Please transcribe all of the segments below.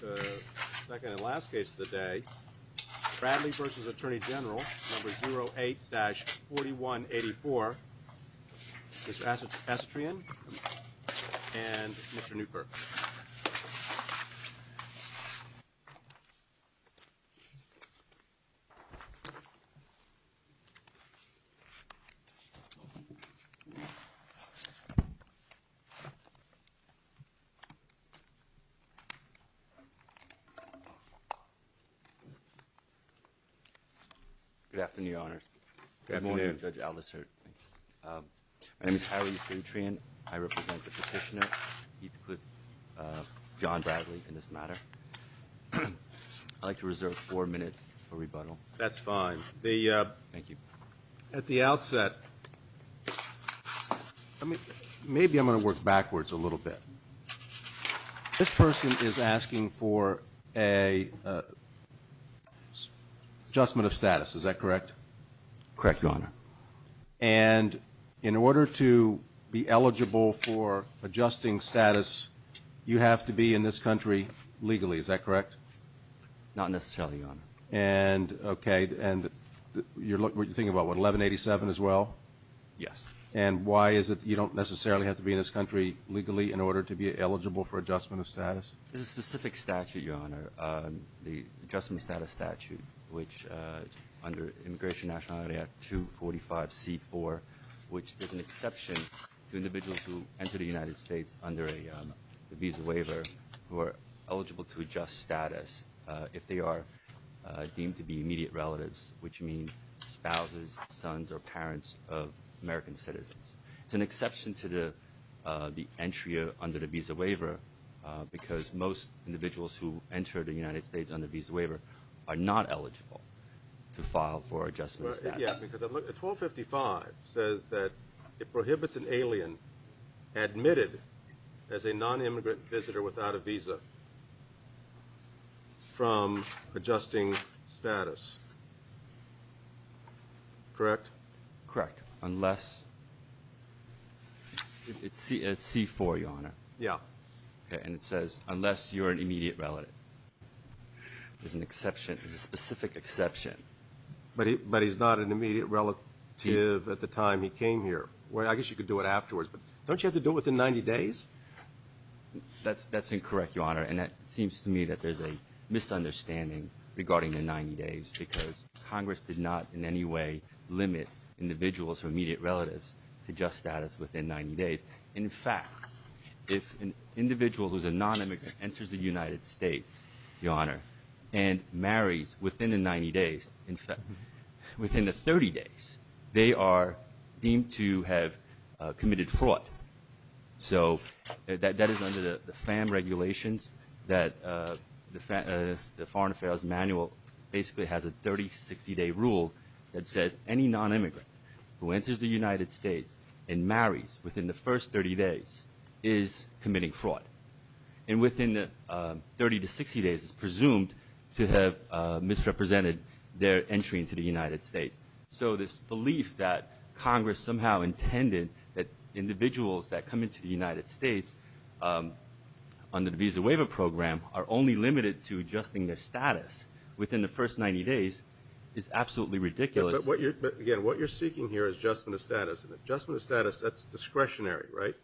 The second and last case of the day is Bradley v. Attorney General, number 08-4184, Mr. Estrian, and Mr. Newkirk. Good afternoon, Your Honors. Good morning, Judge Aldisert. My name is Howie Estrian. I represent the petitioner, Heathcliff John Bradley, in this matter. I'd like to reserve four minutes for rebuttal. That's fine. Thank you. At the outset, I mean, maybe I'm going to work backwards a little bit. This person is talking about the adjustment of status, is that correct? Correct, Your Honor. And in order to be eligible for adjusting status, you have to be in this country legally, is that correct? Not necessarily, Your Honor. Okay. And you're thinking about what, 1187 as well? Yes. And why is it you don't necessarily have to be in this country legally under Immigration Nationality Act 245C4, which is an exception to individuals who enter the United States under a visa waiver who are eligible to adjust status if they are deemed to be immediate relatives, which means spouses, sons, or parents of American citizens. It's an exception to the entry under the visa waiver because most individuals who enter the United States under the visa waiver are not eligible to file for adjustment status. Yeah, because 1255 says that it prohibits an alien admitted as a non-immigrant visitor without a visa from adjusting status. Correct? Correct. Unless, it's C4, Your Honor. Yeah. And it says, unless you're an immediate relative. There's an exception, there's a specific exception. But he's not an immediate relative at the time he came here. Well, I guess you could do it afterwards, but don't you have to do it within 90 days? That's incorrect, Your Honor, and it seems to me that there's a misunderstanding regarding the 90 days because Congress did not in any way limit individuals who are immediate relatives to adjust status within 90 days. In fact, if an individual who's a non-immigrant enters the United States, Your Honor, and marries within the 90 days, in fact, within the 30 days, they are deemed to have committed fraud. So that is under the FAM regulations that the Foreign Affairs Manual basically has a 30-60 day rule that says any non-immigrant who enters the United States and marries within the first 30 days is committing fraud. And within the 30-60 days, it's presumed to have misrepresented their entry into the United States. So this belief that Congress somehow intended that individuals that come into the United States under the Visa Waiver Program are only limited to adjusting their status within the first 90 days is absolutely ridiculous. But what you're, again, what you're seeking here is adjustment of status. Adjustment of status is discretionary, right?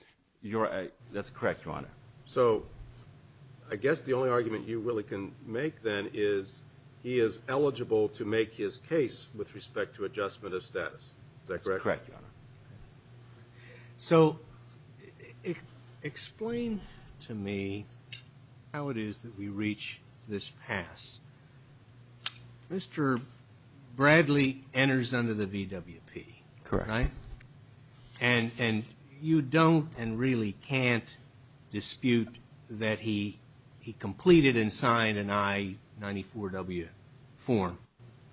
You're right. That's correct, Your Honor. So I guess the only argument you really can make then is he is eligible to make his case with respect to adjustment of status. Is that correct? Correct, Your Honor. So explain to me how it is that we reach this pass. Mr. Bradley enters under the VWP, right? And you don't and really can't dispute that he completed and signed an I-94W form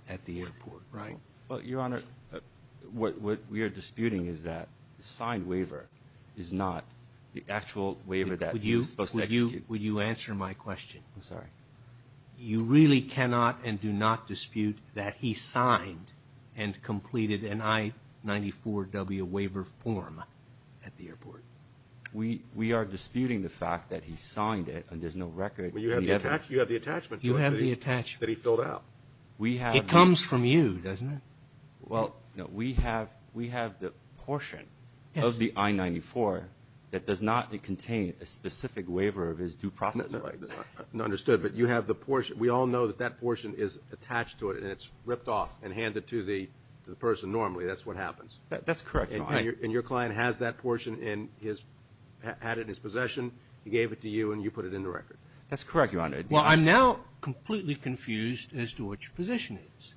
at the airport, right? Well, Your Honor, what we are disputing is that the signed waiver is not the actual waiver that he was supposed to execute. Will you answer my question? I'm sorry. You really cannot and do not dispute that he signed and completed an I-94W waiver form at the airport? We are disputing the fact that he signed it and there's no record of the effort. You have the attachment to it that he filled out. We have... It comes from you, doesn't it? Well, no. We have the portion of the I-94 that does not contain a specific waiver of his due process rights. Understood. But you have the portion. We all know that that portion is attached to it and it's ripped off and handed to the person normally. That's what happens. That's correct, Your Honor. And your client has that portion and he has had it in his possession. He gave it to you and you put it in the record. That's correct, Your Honor. Well, I'm now completely confused as to what your position is.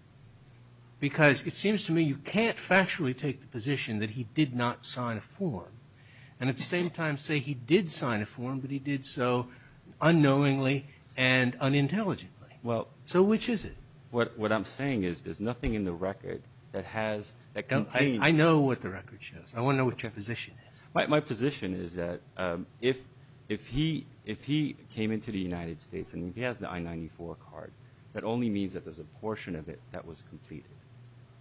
Because it seems to me you can't factually take the position that he did not sign a form and at the same time say he did sign a form but he did so unknowingly and unintelligently. So which is it? What I'm saying is there's nothing in the record that has, that contains... I know what the record shows. I want to know what your position is. My position is that if he came into the United States and he has the I-94 card, that only means that there's a portion of it that was completed.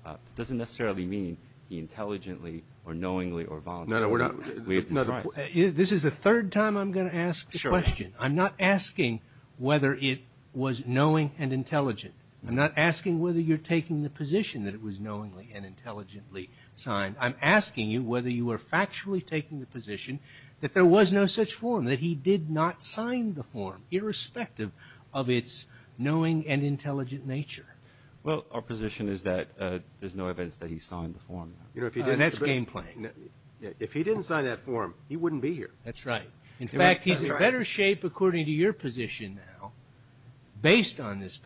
It doesn't necessarily mean he intelligently or knowingly or voluntarily... No, no, we're not... This is the third time I'm going to ask the question. I'm not asking whether it was knowing and intelligent. I'm not asking whether you're taking the position that it was knowingly and intelligently signed. I'm asking you whether you are factually taking the position that there was no such form, that he did not sign the form, irrespective of its knowing and intelligent nature. Well, our position is that there's no evidence that he signed the form. And that's game playing. If he didn't sign that form, he wouldn't be here. That's right. In fact, he's in better shape, according to your position now, based on this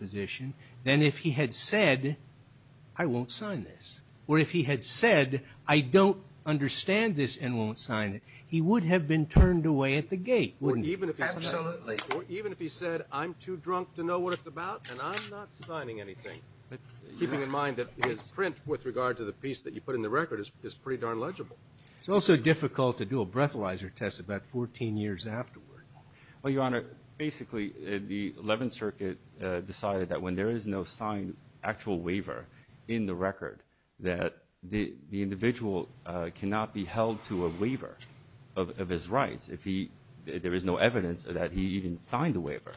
I won't sign this. Or if he had said, I don't understand this and won't sign it, he would have been turned away at the gate, wouldn't he? Absolutely. Or even if he said, I'm too drunk to know what it's about, and I'm not signing anything. Keeping in mind that his print, with regard to the piece that you put in the record, is pretty darn legible. It's also difficult to do a breathalyzer test about 14 years afterward. Well, Your Honor, basically, the 11th Circuit decided that when there is no signed actual waiver in the record, that the individual cannot be held to a waiver of his rights. If he there is no evidence that he even signed the waiver,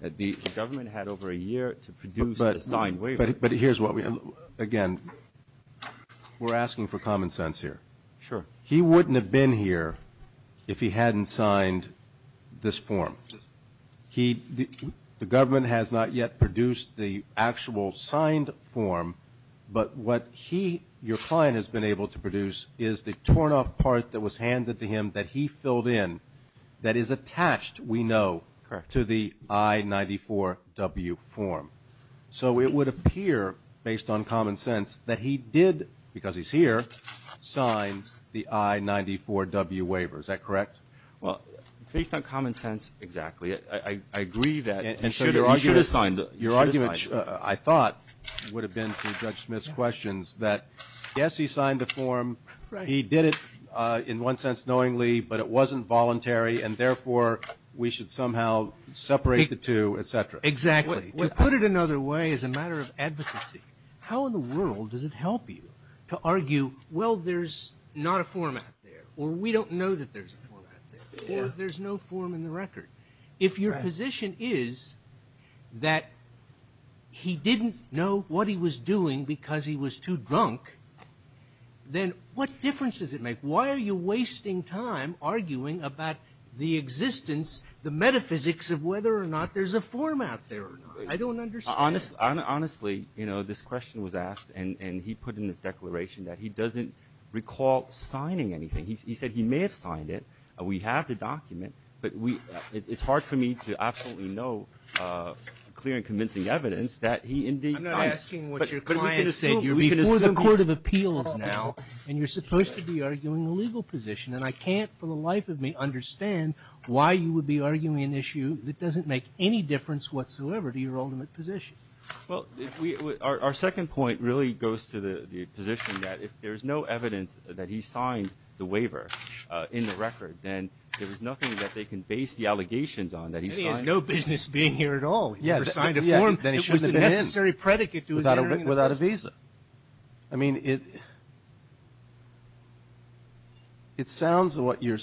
that the government had over a year to produce a signed waiver. But here's what we again, we're asking for common sense here. Sure. He wouldn't have been here if he hadn't signed this form. The government has not yet produced the actual signed form. But what he, your client, has been able to produce is the torn off part that was handed to him that he filled in, that is attached, we know, to the I-94W form. So it would appear, based on common sense, that he did, because he's here, sign the I-94W waiver. Is that correct? Well, based on common sense, exactly. I agree that he should have signed it. Your argument, I thought, would have been, to Judge Smith's questions, that yes, he signed the form. He did it in one sense knowingly, but it wasn't voluntary, and therefore, we should somehow separate the two, et cetera. Exactly. To put it another way, as a matter of advocacy, how in the world does it help you to argue, well, there's not a format there, or we don't know that there's a format there, or there's no form in the record? If your position is that he didn't know what he was doing because he was too drunk, then what difference does it make? Why are you wasting time arguing about the existence, the metaphysics of whether or not there's a format there or not? I don't understand. Honestly, this question was asked, and he put in his declaration that he doesn't recall signing anything. He said he may have signed it. We have the document, but it's hard for me to absolutely know clear and convincing evidence that he indeed signed it. I'm not asking what your client said. You're before the Court of Appeals now, and you're supposed to be arguing a legal position, and I can't for the life of me understand why you would be arguing an issue that doesn't make any difference whatsoever to your ultimate position. Our second point really goes to the position that if there's no evidence that he signed the waiver in the record, then there's nothing that they can base the allegations on that he signed. He has no business being here at all. He never signed a form. Then he shouldn't have been here. It was a necessary predicate to his hearing. Without a visa. I mean, it sounds like what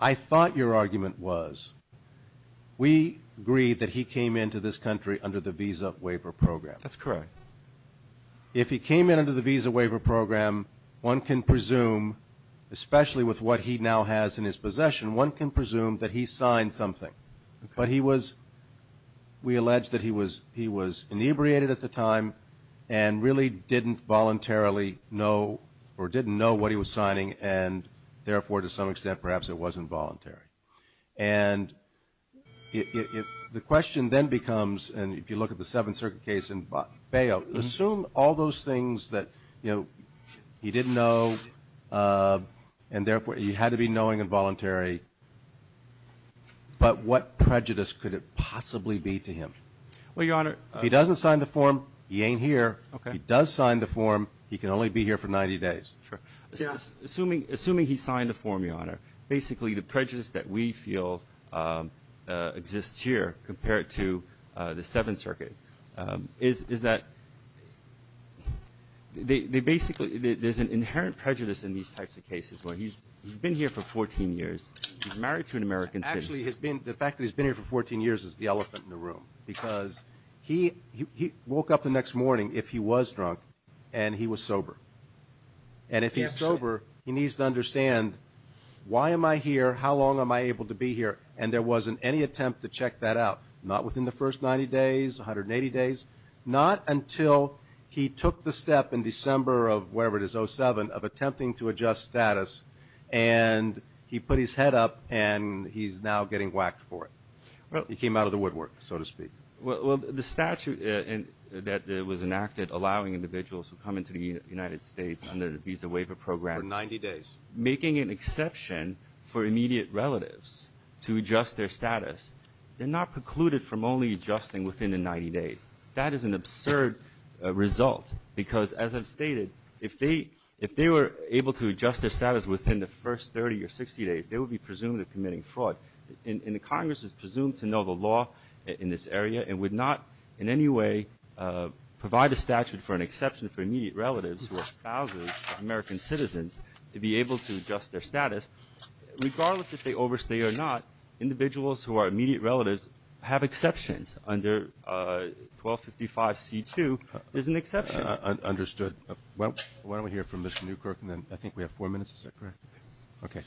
I thought your argument was. We agree that he came into this country under the Visa Waiver Program. That's correct. If he came in under the Visa Waiver Program, one can presume, especially with what he now has in his possession, one can presume that he signed something. But he was, we allege that he was inebriated at the time and really didn't voluntarily know or didn't know what he was signing, and therefore, to some extent, perhaps it wasn't voluntary. And the question then becomes, and if you look at the Seventh Circuit case in Bayou, assume all those things that he didn't know, and therefore, he had to be knowing and voluntary. But what prejudice could it possibly be to him? Well, Your Honor. If he doesn't sign the form, he ain't here. If he does sign the form, he can only be here for 90 days. Sure. Assuming he signed the form, Your Honor, basically the prejudice that we feel exists here compared to the Seventh Circuit is that they basically, there's an inherent prejudice in these types of cases where he's been here for 14 years, he's married to an American citizen. Actually, the fact that he's been here for 14 years is the elephant in the room, because he woke up the next morning, if he was drunk, and he was sober. And if he's sober, he needs to understand, why am I here, how long am I able to be here? And there wasn't any attempt to check that out, not within the first 90 days, 180 days, not until he took the step in December of wherever it is, 07, of attempting to adjust status, and he put his head up, and he's now getting whacked for it. He came out of the woodwork, so to speak. Well, the statute that was enacted allowing individuals who come into the United States under the Visa Waiver Program. For 90 days. Making an exception for immediate relatives to adjust their status, they're not precluded from only adjusting within the 90 days. That is an absurd result, because as I've stated, if they were able to adjust their status within the first 30 or 60 days, they would be presumed of committing fraud, and the Congress is presumed to know the law in this area and would not in any way provide a statute for an exception for immediate relatives who are spouses of American citizens to be able to adjust their status. Regardless if they overstay or not, individuals who are immediate relatives have exceptions under 1255C2 is an exception. Understood. Why don't we hear from Mr. Newkirk, and then I think we have four minutes. Is that correct? Okay.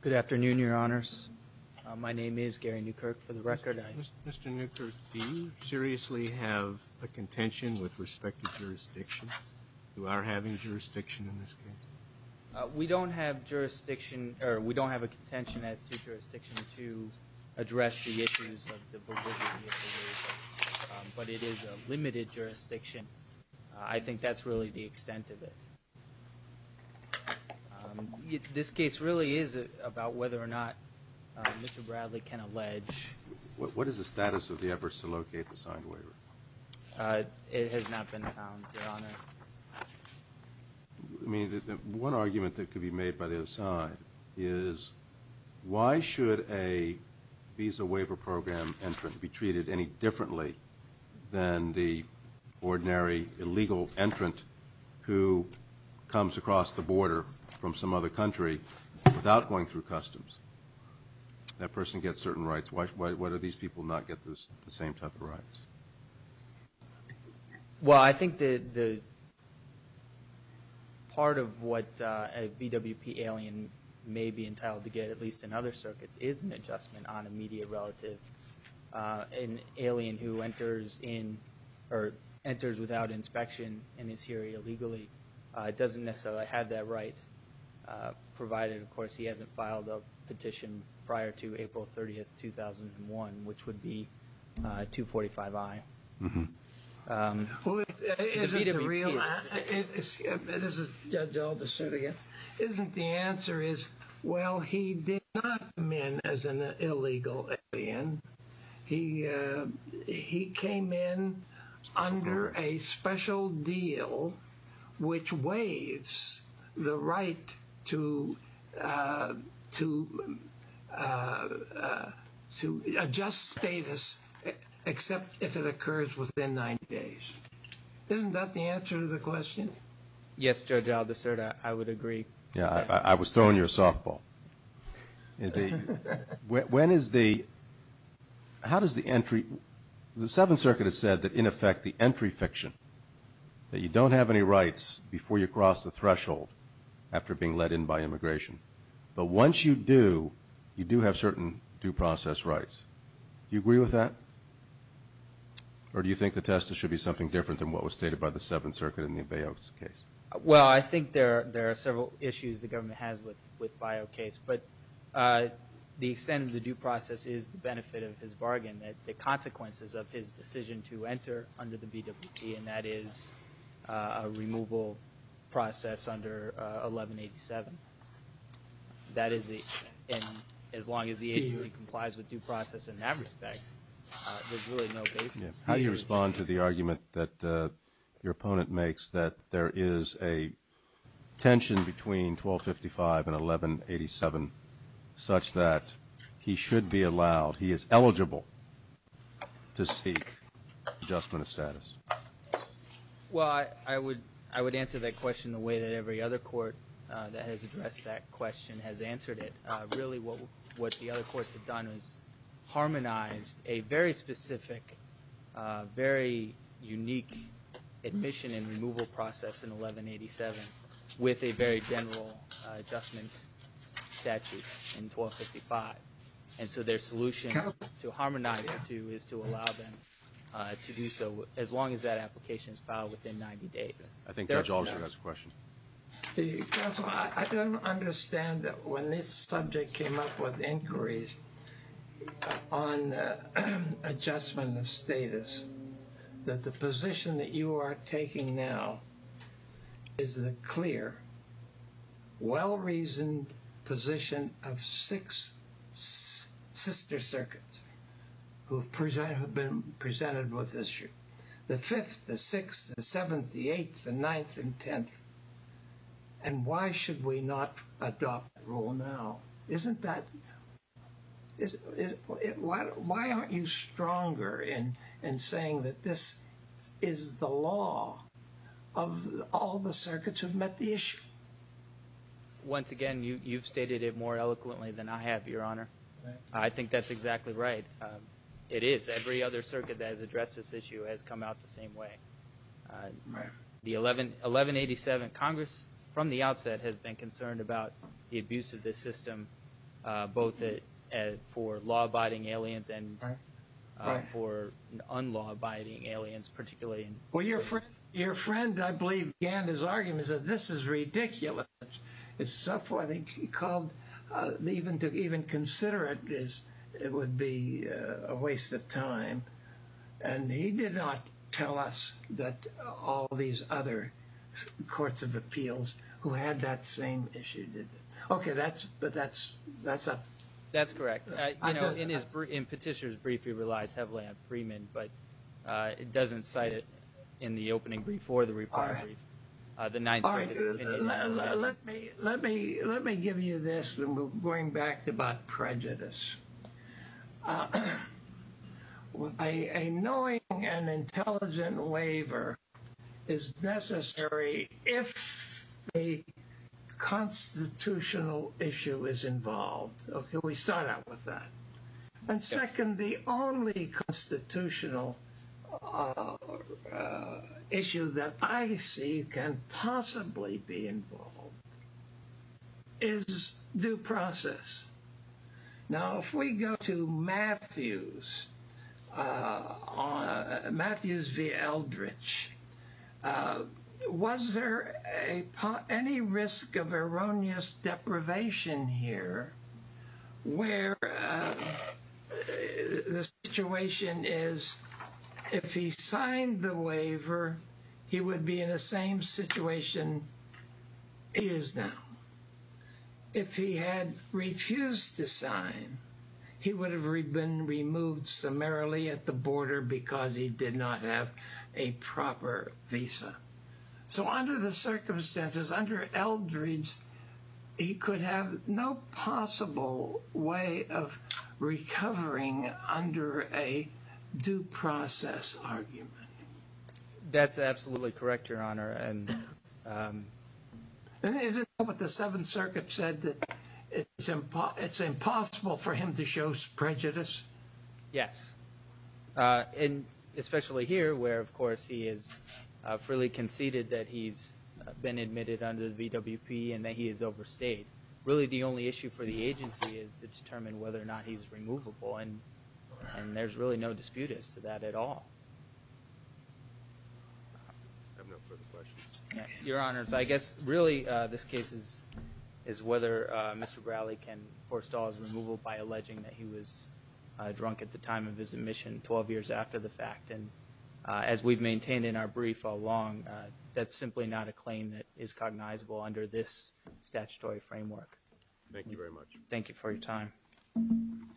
Good afternoon, Your Honors. My name is Gary Newkirk. For the record, I'm Mr. Newkirk, do you seriously have a contention with respect to jurisdiction? You are having jurisdiction in this case? We don't have jurisdiction, or we don't have a contention as to jurisdiction to address the issues of the validity of the visa, but it is a limited jurisdiction. I think that's really the extent of it. This case really is about whether or not Mr. Bradley can allege What is the status of the efforts to locate the signed waiver? It has not been found, Your Honor. I mean, one argument that could be made by the other side is why should a visa waiver program entrant be treated any differently than the ordinary illegal entrant who comes across the border from some other country without going through customs? That person gets certain rights. Why do these people not get the same type of rights? Well, I think that part of what a BWP alien may be entitled to get, at least in other circuits, is an adjustment on a media relative. An alien who enters without inspection and is here illegally doesn't necessarily have that right, provided, of course, he hasn't filed a petition prior to April 30, 2001, which would be 245I. The answer is, well, he did not come in as an illegal alien. He came in under a special deal which waives the right to adjust status, except if it occurs within 90 days. Isn't that the answer to the question? Yes, Judge Aldiserra, I would agree. Yeah, I was throwing you a softball. When is the – how does the entry – the Seventh Circuit has said that, in effect, the entry fiction, that you don't have any rights before you cross the threshold after being let in by immigration, but once you do, you do have certain due process rights. Do you agree with that? Or do you think the test should be something different than what was stated by the Seventh Circuit in the Bayo case? Well, I think there are several issues the government has with Bayo case, but the extent of the due process is the benefit of his bargain, the consequences of his decision to enter under the BWP, and that is a removal process under 1187. That is the – and as long as the agency complies with due process in that respect, there's really no basis. How do you respond to the argument that your opponent makes that there is a tension between 1255 and 1187 such that he should be allowed, he is eligible to seek adjustment of status? Well, I would answer that question the way that every other court that has addressed that question has answered it. Really what the other courts have done is harmonized a very specific, very unique admission and removal process in 1187 with a very general adjustment statute in 1255. And so their solution to harmonize it is to allow them to do so as long as that application is filed within 90 days. I think Judge Albers has a question. Counsel, I don't understand that when this subject came up with inquiries on adjustment of status, that the position that you are taking now is the clear, well-reasoned position of six sister circuits who have been presented with this issue. The fifth, the sixth, the seventh, the eighth, the ninth, and tenth. And why should we not adopt that rule now? Isn't that, why aren't you stronger in saying that this is the law of all the circuits who have met the issue? Once again, you've stated it more eloquently than I have, Your Honor. I think that's exactly right. It is. Every other circuit that has addressed this issue has come out the same way. The 1187 Congress, from the outset, has been concerned about the abuse of this system, both for law-abiding aliens and for unlaw-abiding aliens, particularly. Well, your friend, I believe, began his arguments that this is ridiculous. I think he called even to even consider it as it would be a waste of time. And he did not tell us that all these other courts of appeals who had that same issue did. Okay, but that's a... That's correct. You know, in Petitioner's brief, he relies heavily on Freeman, but it doesn't cite it in the opening brief or the reply brief. Let me give you this, and we'll bring back about prejudice. A knowing and intelligent waiver is necessary if a constitutional issue is involved. Okay, we start out with that. And second, the only constitutional issue that I see can possibly be involved is due process. Now, if we go to Matthews v. Eldridge, was there any risk of erroneous deprivation here, where the situation is, if he signed the waiver, he would be in the same situation he is now? If he had refused to sign, he would have been removed summarily at the border because he did not have a proper visa. So under the circumstances, under Eldridge, he could have no possible way of recovering under a due process argument. That's absolutely correct, Your Honor. And is it what the Seventh Circuit said, that it's impossible for him to show prejudice? Yes. And especially here, where, of course, he has freely conceded that he's been admitted under the VWP and that he has overstayed. Really, the only issue for the agency is to determine whether or not he's removable, and there's really no dispute as to that at all. I have no further questions. Your Honors, I guess, really, this case is whether Mr. Bradley can forestall his removal by alleging that he was drunk at the time of his admission, 12 years after the fact. And as we've maintained in our brief all along, that's simply not a claim that is cognizable under this statutory framework. Thank you very much. Thank you for your time. Thank you.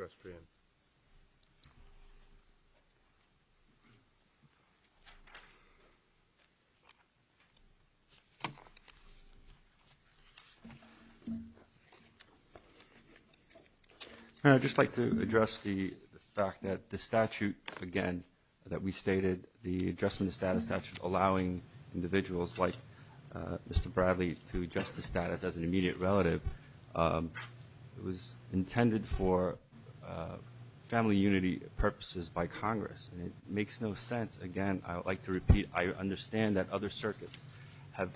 Mr. Estrian. I'd just like to address the fact that the statute, again, that we stated, the adjustment of status statute allowing individuals like Mr. Bradley to adjust the status as an immediate relative was intended for family unity purposes by Congress. And it makes no sense, again, I would like to repeat, I understand that other circuits have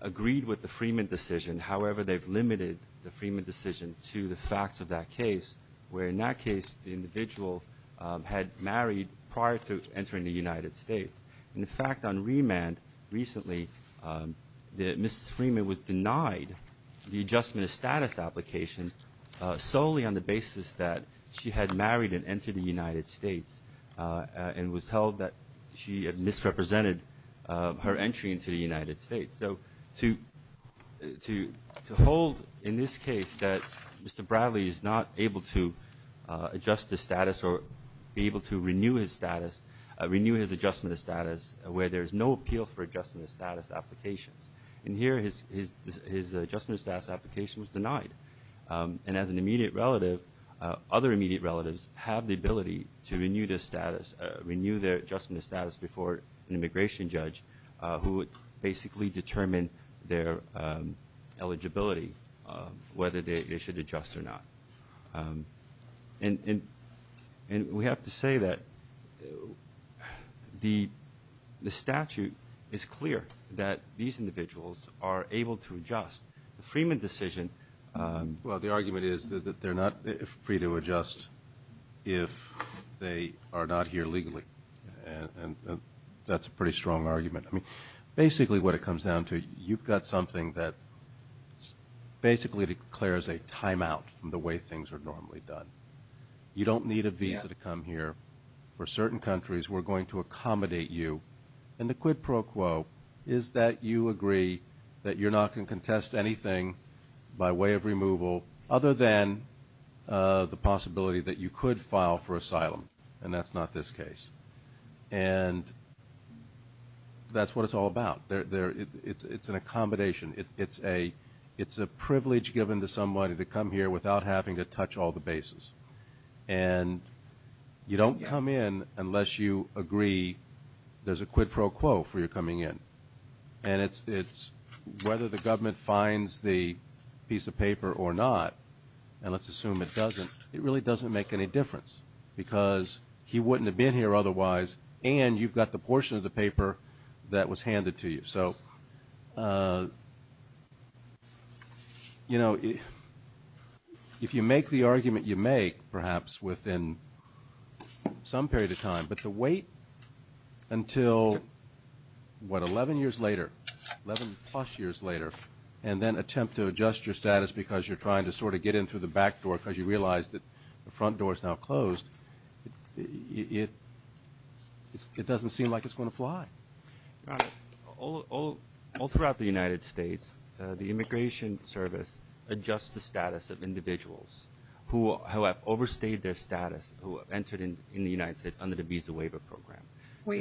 agreed with the Freeman decision. However, they've limited the Freeman decision to the facts of that case, where in that case the individual had married prior to entering the United States. In fact, on remand recently, Mrs. Freeman was denied the adjustment of status application solely on the basis that she had married and entered the United States and was held that she had misrepresented her entry into the United States. So to hold in this case that Mr. Bradley is not able to adjust the status or be able to renew his status, renew his adjustment of status, where there is no appeal for adjustment of status applications. And here his adjustment of status application was denied. And as an immediate relative, other immediate relatives have the ability to renew their adjustment of status before an immigration judge who would basically determine their eligibility, whether they should adjust or not. And we have to say that the statute is clear that these individuals are able to adjust. The Freeman decision – Well, the argument is that they're not free to adjust if they are not here legally. And that's a pretty strong argument. I mean, basically what it comes down to, you've got something that basically declares a timeout from the way things are normally done. You don't need a visa to come here. For certain countries, we're going to accommodate you. And the quid pro quo is that you agree that you're not going to contest anything by way of removal other than the possibility that you could file for asylum, and that's not this case. And that's what it's all about. It's an accommodation. It's a privilege given to somebody to come here without having to touch all the bases. And you don't come in unless you agree there's a quid pro quo for your coming in. And it's whether the government finds the piece of paper or not, and let's assume it doesn't, it really doesn't make any difference because he wouldn't have been here otherwise, and you've got the portion of the paper that was handed to you. So, you know, if you make the argument you make, perhaps within some period of time, but to wait until, what, 11 years later, 11-plus years later, and then attempt to adjust your status because you're trying to sort of get in through the back door because you realize that the front door is now closed, it doesn't seem like it's going to fly. Your Honor, all throughout the United States, the Immigration Service adjusts the status of individuals who have overstayed their status, who have entered in the United States under the Visa Waiver Program. Wait.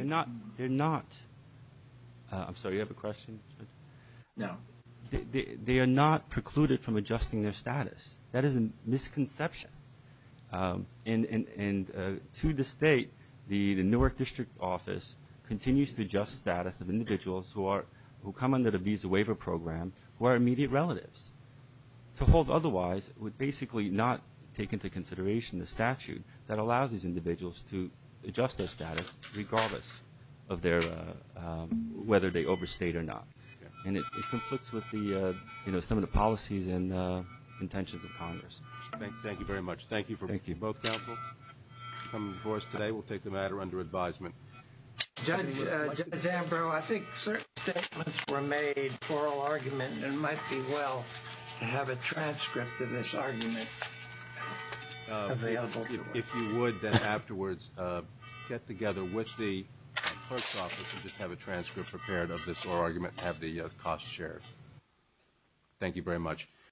They're not. I'm sorry, you have a question? No. They are not precluded from adjusting their status. That is a misconception. And to the State, the Newark District Office continues to adjust the status of individuals who come under the Visa Waiver Program who are immediate relatives. To hold otherwise would basically not take into consideration the statute that allows these individuals to adjust their status regardless of whether they overstayed or not. And it conflicts with some of the policies and intentions of Congress. Thank you very much. Thank you for being both helpful and coming before us today. We'll take the matter under advisement. Judge Ambrose, I think certain statements were made for oral argument, and it might be well to have a transcript of this argument available to us. If you would, then, afterwards, get together with the clerk's office and just have a transcript prepared of this oral argument and have the costs shared. Thank you very much.